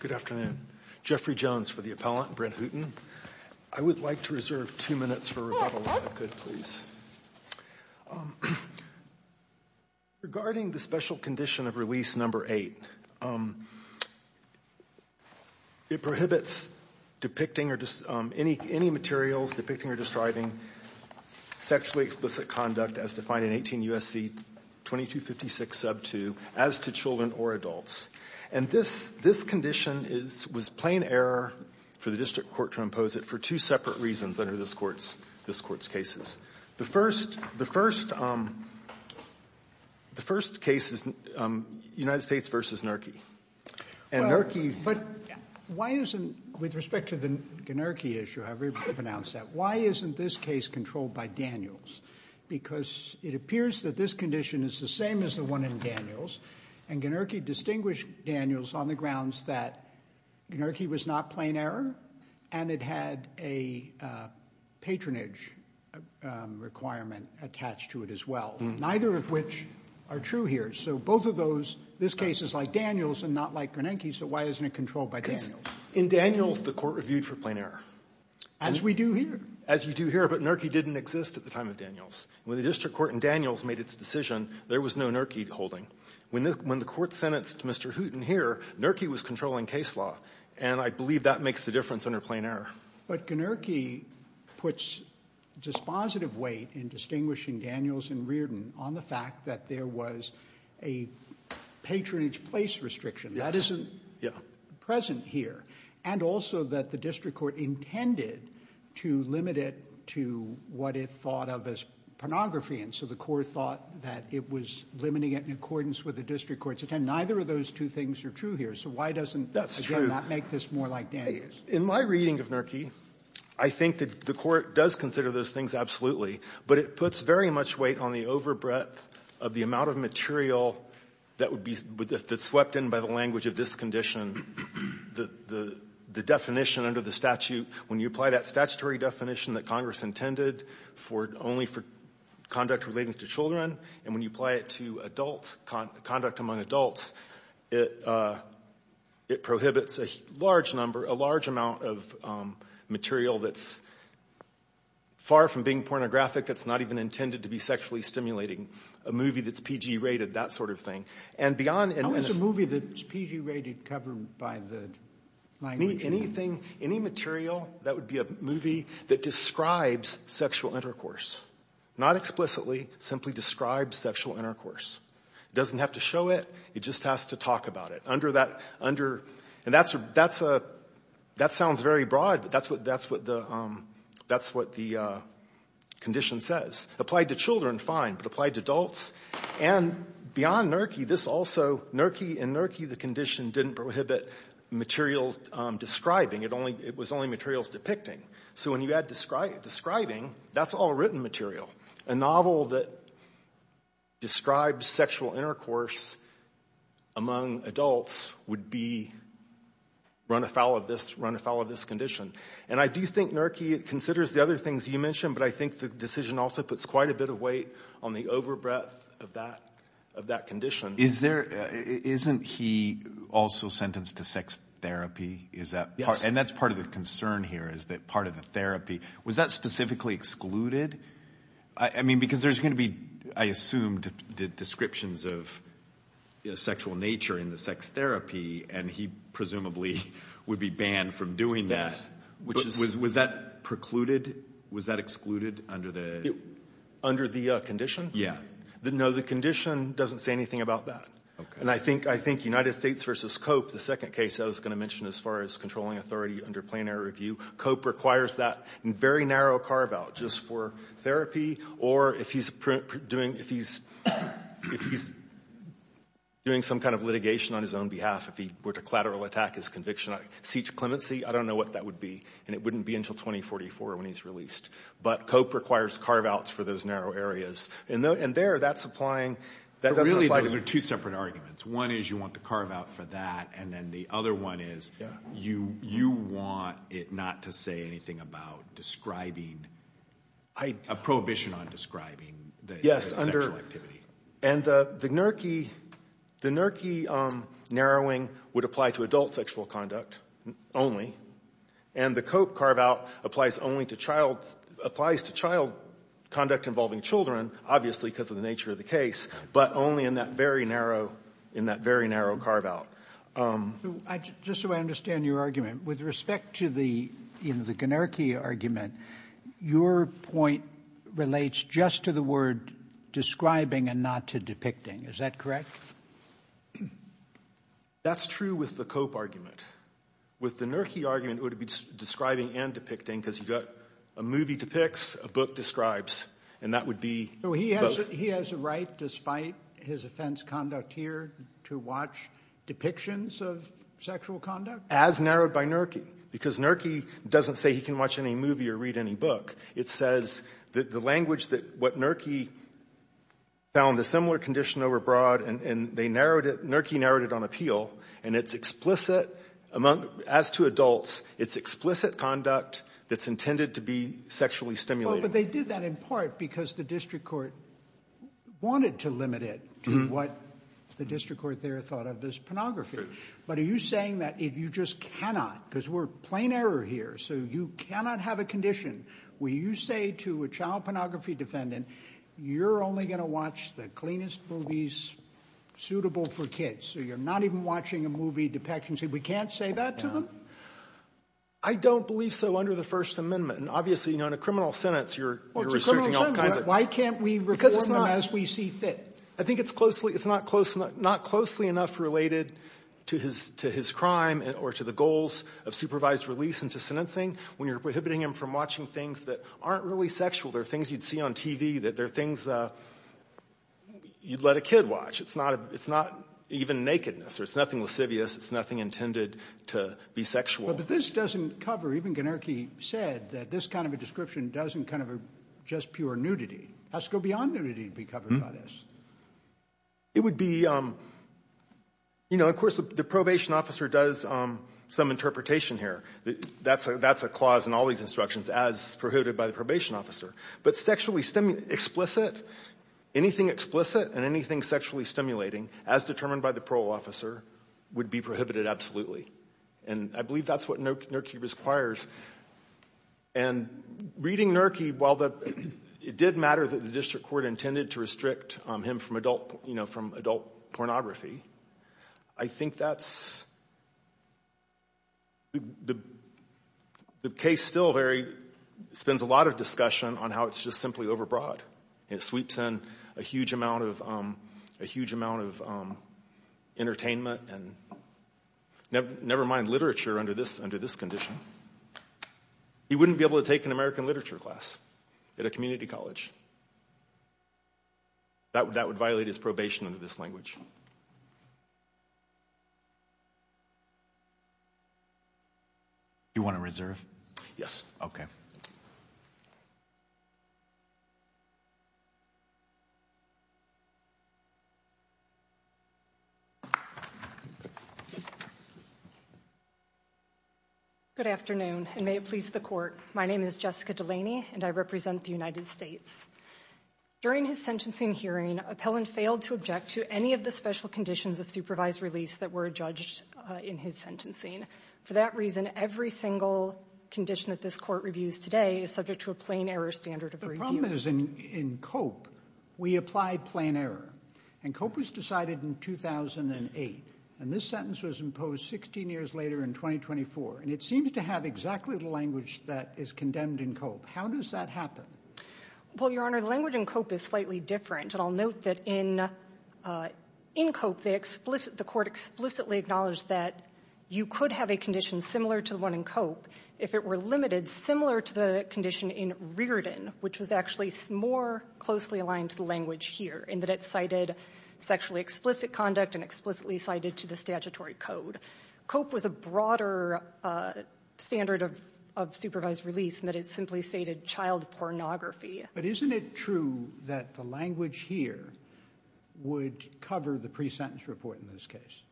Good afternoon, Jeffrey Jones for the appellant Brent Hooton. I would like to reserve two minutes for good, please Regarding the special condition of release number eight It prohibits depicting or just any any materials depicting or describing sexually explicit conduct as defined in 18 USC 2256 sub 2 as to children or adults and this this condition is was plain error For the district court to impose it for two separate reasons under this courts this courts cases the first the first The first case is United States versus NERCY and NERCY but why isn't with respect to the NERCY issue Why isn't this case controlled by Daniels because it appears that this condition is the same as the one in Daniels and NERCY distinguished Daniels on the grounds that NERCY was not plain error and it had a patronage Requirement attached to it as well. Neither of which are true here So both of those this case is like Daniels and not like Bernanke So why isn't it controlled by Daniels in Daniels the court reviewed for plain error as we do here as you do here But NERCY didn't exist at the time of Daniels when the district court and Daniels made its decision. There was no NERCY holding When the when the court sentenced mr. Hooton here NERCY was controlling case law and I believe that makes the difference under plain error, but can NERCY puts just positive weight in distinguishing Daniels and Reardon on the fact that there was a Patronage place restriction that isn't yeah present here and also that the district court intended to limit it to what it thought of as Pornography and so the court thought that it was limiting it in accordance with the district courts attend Neither of those two things are true here. So why doesn't that make this more like Daniels in my reading of NERCY? I think that the court does consider those things absolutely But it puts very much weight on the over breadth of the amount of material That would be with this that's swept in by the language of this condition The the the definition under the statute when you apply that statutory definition that Congress intended for only for Conduct relating to children and when you apply it to adult conduct among adults it it prohibits a large number a large amount of material that's Pornographic that's not even intended to be sexually stimulating a movie that's PG rated that sort of thing and beyond and when it's a movie that's PG rated covered by the Like me anything any material that would be a movie that describes sexual intercourse Not explicitly simply describes sexual intercourse Doesn't have to show it it just has to talk about it under that under and that's that's a that sounds very broad but that's what that's what the That's what the condition says applied to children fine, but applied to adults and Beyond NERCY this also NERCY and NERCY the condition didn't prohibit Materials describing it only it was only materials depicting so when you add describe describing That's all written material a novel that describes sexual intercourse among adults would be Run afoul of this run afoul of this condition, and I do think NERCY it considers the other things you mentioned But I think the decision also puts quite a bit of weight on the over breadth of that of that condition is there Isn't he also sentenced to sex therapy is that and that's part of the concern here Is that part of the therapy was that specifically excluded I? mean because there's going to be I assumed the descriptions of Sexual nature in the sex therapy, and he presumably would be banned from doing that Which is was that precluded was that excluded under the under the condition? Yeah, didn't know the condition doesn't say anything about that And I think I think United States versus Cope the second case I was going to mention as far as controlling authority under plenary review Cope requires that very narrow carve-out just for therapy, or if he's doing if he's Doing some kind of litigation on his own behalf if he were to collateral attack his conviction. I see to clemency I don't know what that would be and it wouldn't be until 2044 when he's released But Cope requires carve-outs for those narrow areas and though and there that's applying That doesn't like those are two separate arguments one is you want the carve-out for that, and then the other one is you you? Want it not to say anything about describing I? a prohibition on describing Yes under activity and the the nurki the nurki Narrowing would apply to adult sexual conduct only and the Cope carve-out applies only to child applies to child Conduct involving children obviously because of the nature of the case, but only in that very narrow in that very narrow carve-out Just so I understand your argument with respect to the in the gunarchy argument your point Relates just to the word describing and not to depicting is that correct? That's true with the Cope argument with the nurki argument would be Describing and depicting because you've got a movie depicts a book describes And that would be so he has he has a right despite his offense conduct here to watch Depictions of sexual conduct as narrowed by nurki because nurki doesn't say he can watch any movie or read any book It says that the language that what nurki? Found the similar condition overbroad, and they narrowed it nurki narrowed it on appeal And it's explicit among as to adults. It's explicit conduct That's intended to be sexually stimulated, but they did that in part because the district court Wanted to limit it to what the district court there thought of this pornography But are you saying that if you just cannot because we're plain error here, so you cannot have a condition Will you say to a child pornography defendant? You're only going to watch the cleanest movies? Suitable for kids, so you're not even watching a movie depictions if we can't say that to them I Don't believe so under the first amendment and obviously you know in a criminal sentence. You're Why can't we because it's not as we see fit. I think it's closely It's not close not closely enough related to his to his crime or to the goals of supervised release into sentencing When you're prohibiting him from watching things that aren't really sexual there are things you'd see on TV that there are things You'd let a kid watch. It's not it's not even nakedness, or it's nothing lascivious It's nothing intended to be sexual But this doesn't cover even gonarchy said that this kind of a description doesn't kind of a just pure nudity That's go beyond nudity to be covered by this It would be You know of course the probation officer does Some interpretation here that that's a that's a clause in all these instructions as prohibited by the probation officer, but sexually stemming explicit Anything explicit and anything sexually stimulating as determined by the parole officer would be prohibited absolutely and I believe that's what no turkey requires and Reading Nerky while the it did matter that the district court intended to restrict him from adult you know from adult pornography I think that's the the case still very Spends a lot of discussion on how it's just simply overbroad it sweeps in a huge amount of a huge amount of entertainment and Never mind literature under this under this condition He wouldn't be able to take an American literature class at a community college That would that would violate his probation under this language You want to reserve yes, okay? Good afternoon and may it please the court. My name is Jessica Delaney, and I represent the United States During his sentencing hearing appellant failed to object to any of the special conditions of supervised release that were judged in his sentence for that reason every single Condition that this court reviews today is subject to a plain error standard of the problem is in in cope We applied plain error and cope was decided in 2008 and this sentence was imposed 16 years later in 2024 and it seems to have exactly the language that is condemned in cope. How does that happen? Well your honor the language in cope is slightly different, and I'll note that in In cope they explicit the court explicitly acknowledged that You could have a condition similar to the one in cope if it were limited similar to the condition in Reardon which was actually more closely aligned to the language here in that it cited Sexually explicit conduct and explicitly cited to the statutory code cope was a broader Standard of supervised release and that it simply stated child pornography, but isn't it true that the language here? Would cover the pre-sentence report in this case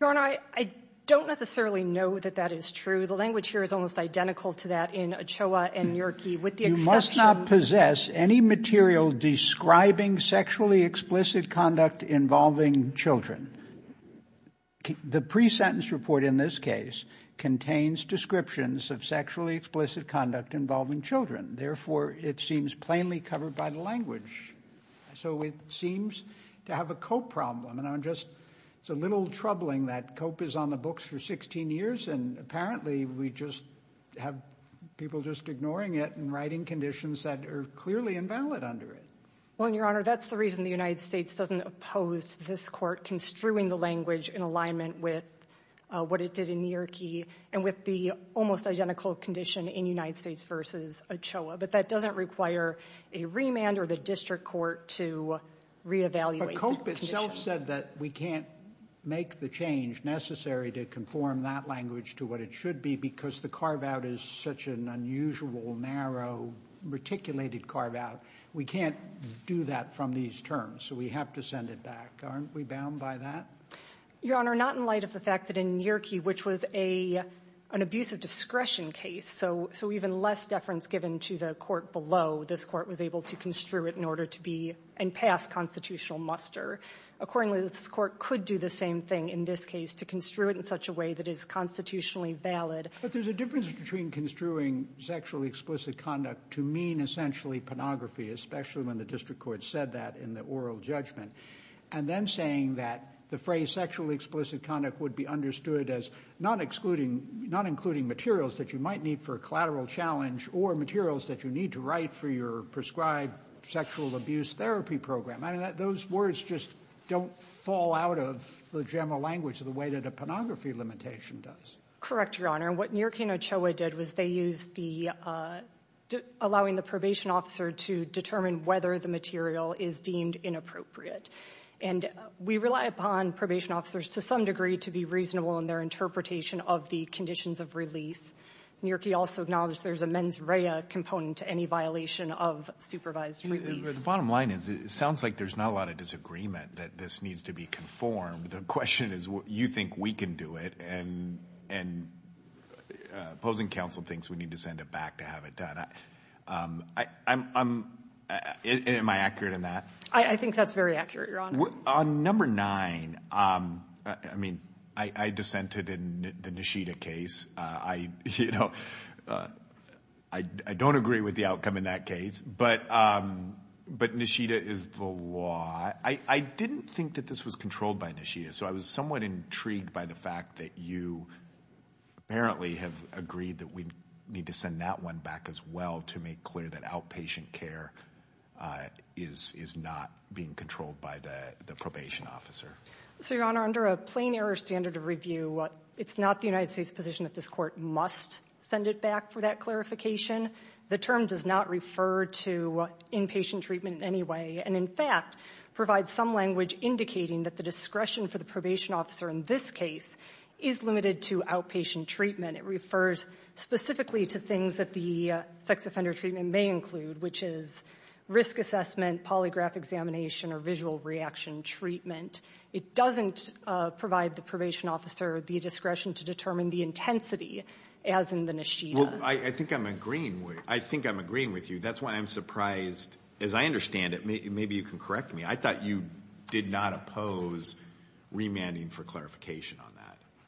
Your honor. I don't necessarily know that that is true The language here is almost identical to that in a choa and Yorkie with you must not possess any material describing sexually explicit conduct involving children the pre-sentence report in this case Contains descriptions of sexually explicit conduct involving children therefore it seems plainly covered by the language So it seems to have a cope problem and I'm just it's a little troubling that cope is on the books for 16 years and apparently we just Have people just ignoring it and writing conditions that are clearly invalid under it well your honor That's the reason the United States doesn't oppose this court construing the language in alignment with What it did in Yorkie and with the almost identical condition in United States versus a choa but that doesn't require a remand or the district court to Re-evaluate cope itself said that we can't make the change Necessary to conform that language to what it should be because the carve-out is such an unusual narrow Reticulated carve-out we can't do that from these terms, so we have to send it back aren't we bound by that Your honor not in light of the fact that in Yorkie, which was a an abuse of discretion case So so even less deference given to the court below this court was able to construe it in order to be and pass constitutional muster Accordingly this court could do the same thing in this case to construe it in such a way that is constitutionally valid But there's a difference between construing sexually explicit conduct to mean essentially pornography Especially when the district court said that in the oral judgment And then saying that the phrase sexually explicit conduct would be understood as not excluding Not including materials that you might need for a collateral challenge or materials that you need to write for your prescribed sexual abuse therapy program I mean those words just don't fall out of the general language of the way that a pornography limitation does correct your honor and what near Kano Choa did was they use the allowing the probation officer to determine whether the material is deemed inappropriate and We rely upon probation officers to some degree to be reasonable in their interpretation of the conditions of release New York he also acknowledged. There's a mens rea component to any violation of supervised Bottom line is it sounds like there's not a lot of disagreement that this needs to be conformed the question is what you think we can do it and and Opposing counsel thinks we need to send it back to have it done. I I'm Am I accurate in that I think that's very accurate. You're on number nine. I Mean I I dissented in the Nishita case. I you know, I don't agree with the outcome in that case, but But Nishita is the law. I I didn't think that this was controlled by Nishita. So I was somewhat intrigued by the fact that you Apparently have agreed that we need to send that one back as well to make clear that outpatient care Is is not being controlled by the the probation officer So your honor under a plain error standard of review what it's not the United States position that this court must Send it back for that clarification The term does not refer to inpatient treatment in any way And in fact provide some language indicating that the discretion for the probation officer in this case is limited to outpatient treatment it refers specifically to things that the sex offender treatment may include which is risk assessment polygraph examination or visual reaction treatment It doesn't provide the probation officer the discretion to determine the intensity as in the Nishita I think I'm agreeing with I think I'm agreeing with you. That's why I'm surprised as I understand it Maybe you can correct me. I thought you did not oppose Remanding for clarification on that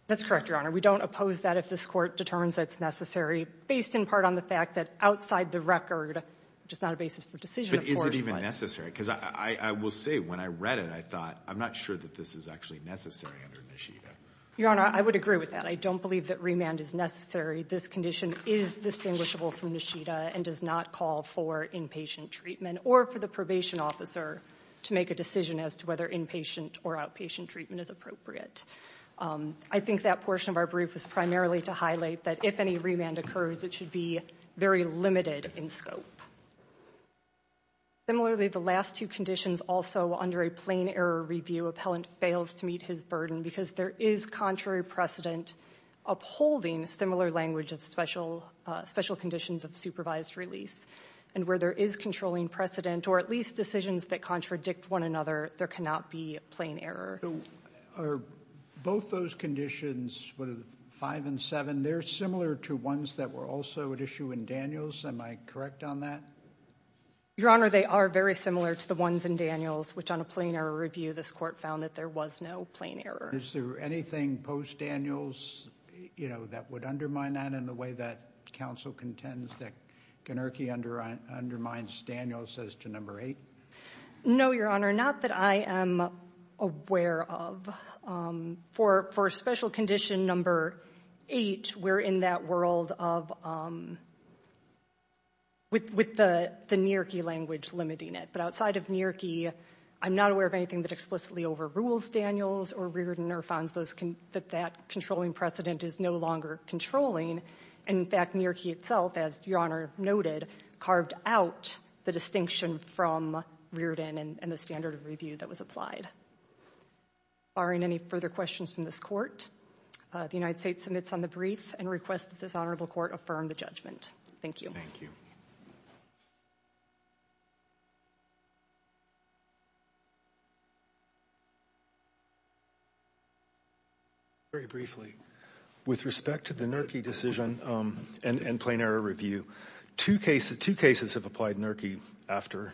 that's correct your honor We don't oppose that if this court determines that it's necessary based in part on the fact that outside the record Just not a basis for decision is it even necessary because I will say when I read it I thought I'm not sure that this is actually necessary under Nishita your honor. I would agree with that I don't believe that remand is necessary This condition is distinguishable from Nishita and does not call for inpatient treatment or for the probation officer To make a decision as to whether inpatient or outpatient treatment is appropriate I think that portion of our brief is primarily to highlight that if any remand occurs it should be very limited in scope Similarly the last two conditions also under a plain error review appellant fails to meet his burden because there is contrary precedent upholding similar language of special Special conditions of supervised release and where there is controlling precedent or at least decisions that contradict one another there cannot be plain error Both those conditions with five and seven they're similar to ones that were also at issue in Daniels am I correct on that? Your honor they are very similar to the ones in Daniels which on a plain error review this court found that there was no plain Error is there anything post Daniels? You know that would undermine that in the way that council contends that Kenurkey under undermines Daniels as to number eight No, your honor not that I am aware of For for a special condition number eight. We're in that world of With with the the near key language limiting it, but outside of near key I'm not aware of anything that explicitly overrules Daniels or reared in Irvine's those can that that controlling precedent is no longer Controlling and in fact near key itself as your honor noted carved out the distinction from Reardon and the standard of review that was applied Barring any further questions from this court The United States submits on the brief and requests that this honorable court affirm the judgment. Thank you. Thank you You Very briefly With respect to the nirki decision and in plain error review two cases two cases have applied nirki after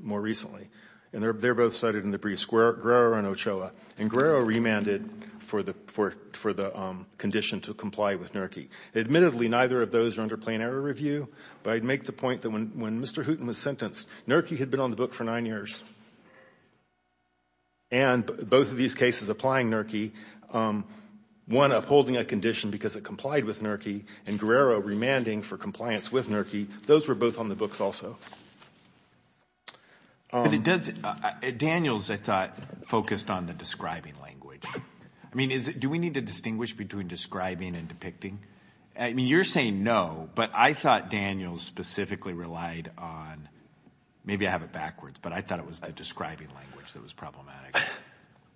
More recently and they're both cited in the brief square grower and Ochoa and grower remanded for the for for the Condition to comply with nirki admittedly neither of those are under plain error review, but I'd make the point that when when mr Putin was sentenced nirki had been on the book for nine years and Both of these cases applying nirki One upholding a condition because it complied with nirki and Guerrero remanding for compliance with nirki. Those were both on the books also But it does Daniels I thought focused on the describing language. I mean is it do we need to distinguish between describing and depicting? I mean you're saying no, but I thought Daniels specifically relied on Maybe I have it backwards, but I thought it was a describing language. That was problematic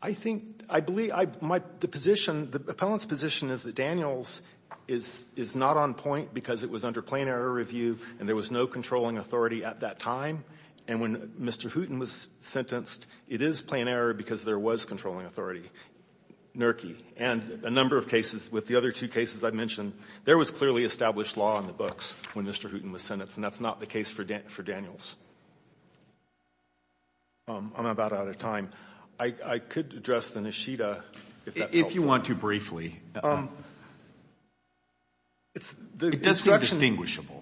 I think I believe I might the position the appellant's position is that Daniels is Is not on point because it was under plain error review and there was no controlling authority at that time and when mr Hooten was sentenced it is plain error because there was controlling authority Nirki and a number of cases with the other two cases I mentioned there was clearly established law in the books when mr Hooten was sentenced and that's not the case for dent for Daniels I'm about out of time. I could address the Nishida if you want to briefly It's the destruction Distinguishable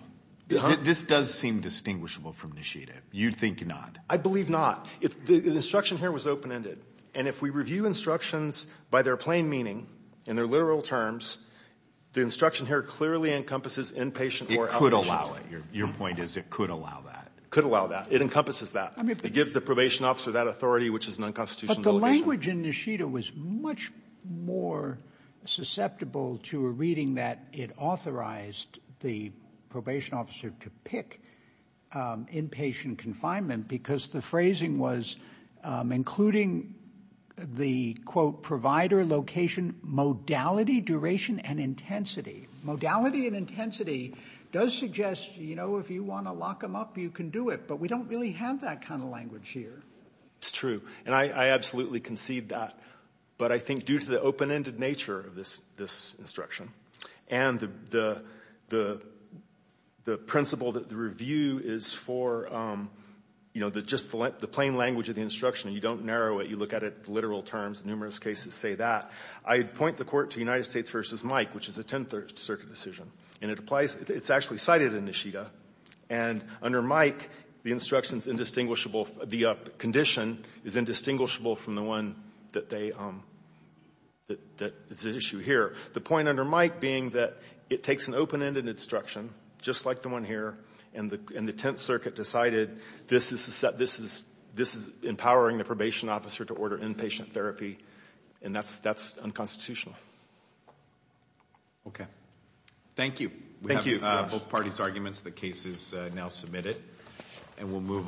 this does seem distinguishable from Nishida. You'd think not I believe not if the instruction here was open-ended and if we review instructions by their plain meaning and their literal terms The instruction here clearly encompasses inpatient or could allow it your point is it could allow that could allow that it encompasses that It gives the probation officer that authority, which is an unconstitutional language in Nishida was much more Susceptible to a reading that it authorized the probation officer to pick inpatient confinement because the phrasing was including the quote provider location Modality duration and intensity Modality and intensity does suggest, you know, if you want to lock them up you can do it But we don't really have that kind of language here. It's true and I absolutely concede that but I think due to the open-ended nature of this this instruction and the the the principle that the review is for You know the just the plain language of the instruction and you don't narrow it you look at it literal terms numerous cases say that I'd point the court to United States versus Mike, which is a 10th Circuit decision and it applies. It's actually cited in Nishida and under Mike the instructions indistinguishable the condition is indistinguishable from the one that they That it's an issue here the point under Mike being that it takes an open-ended instruction Just like the one here and the in the 10th Circuit decided this is set This is this is empowering the probation officer to order inpatient therapy and that's that's unconstitutional Okay, thank you, thank you both parties arguments the case is now submitted and we'll move on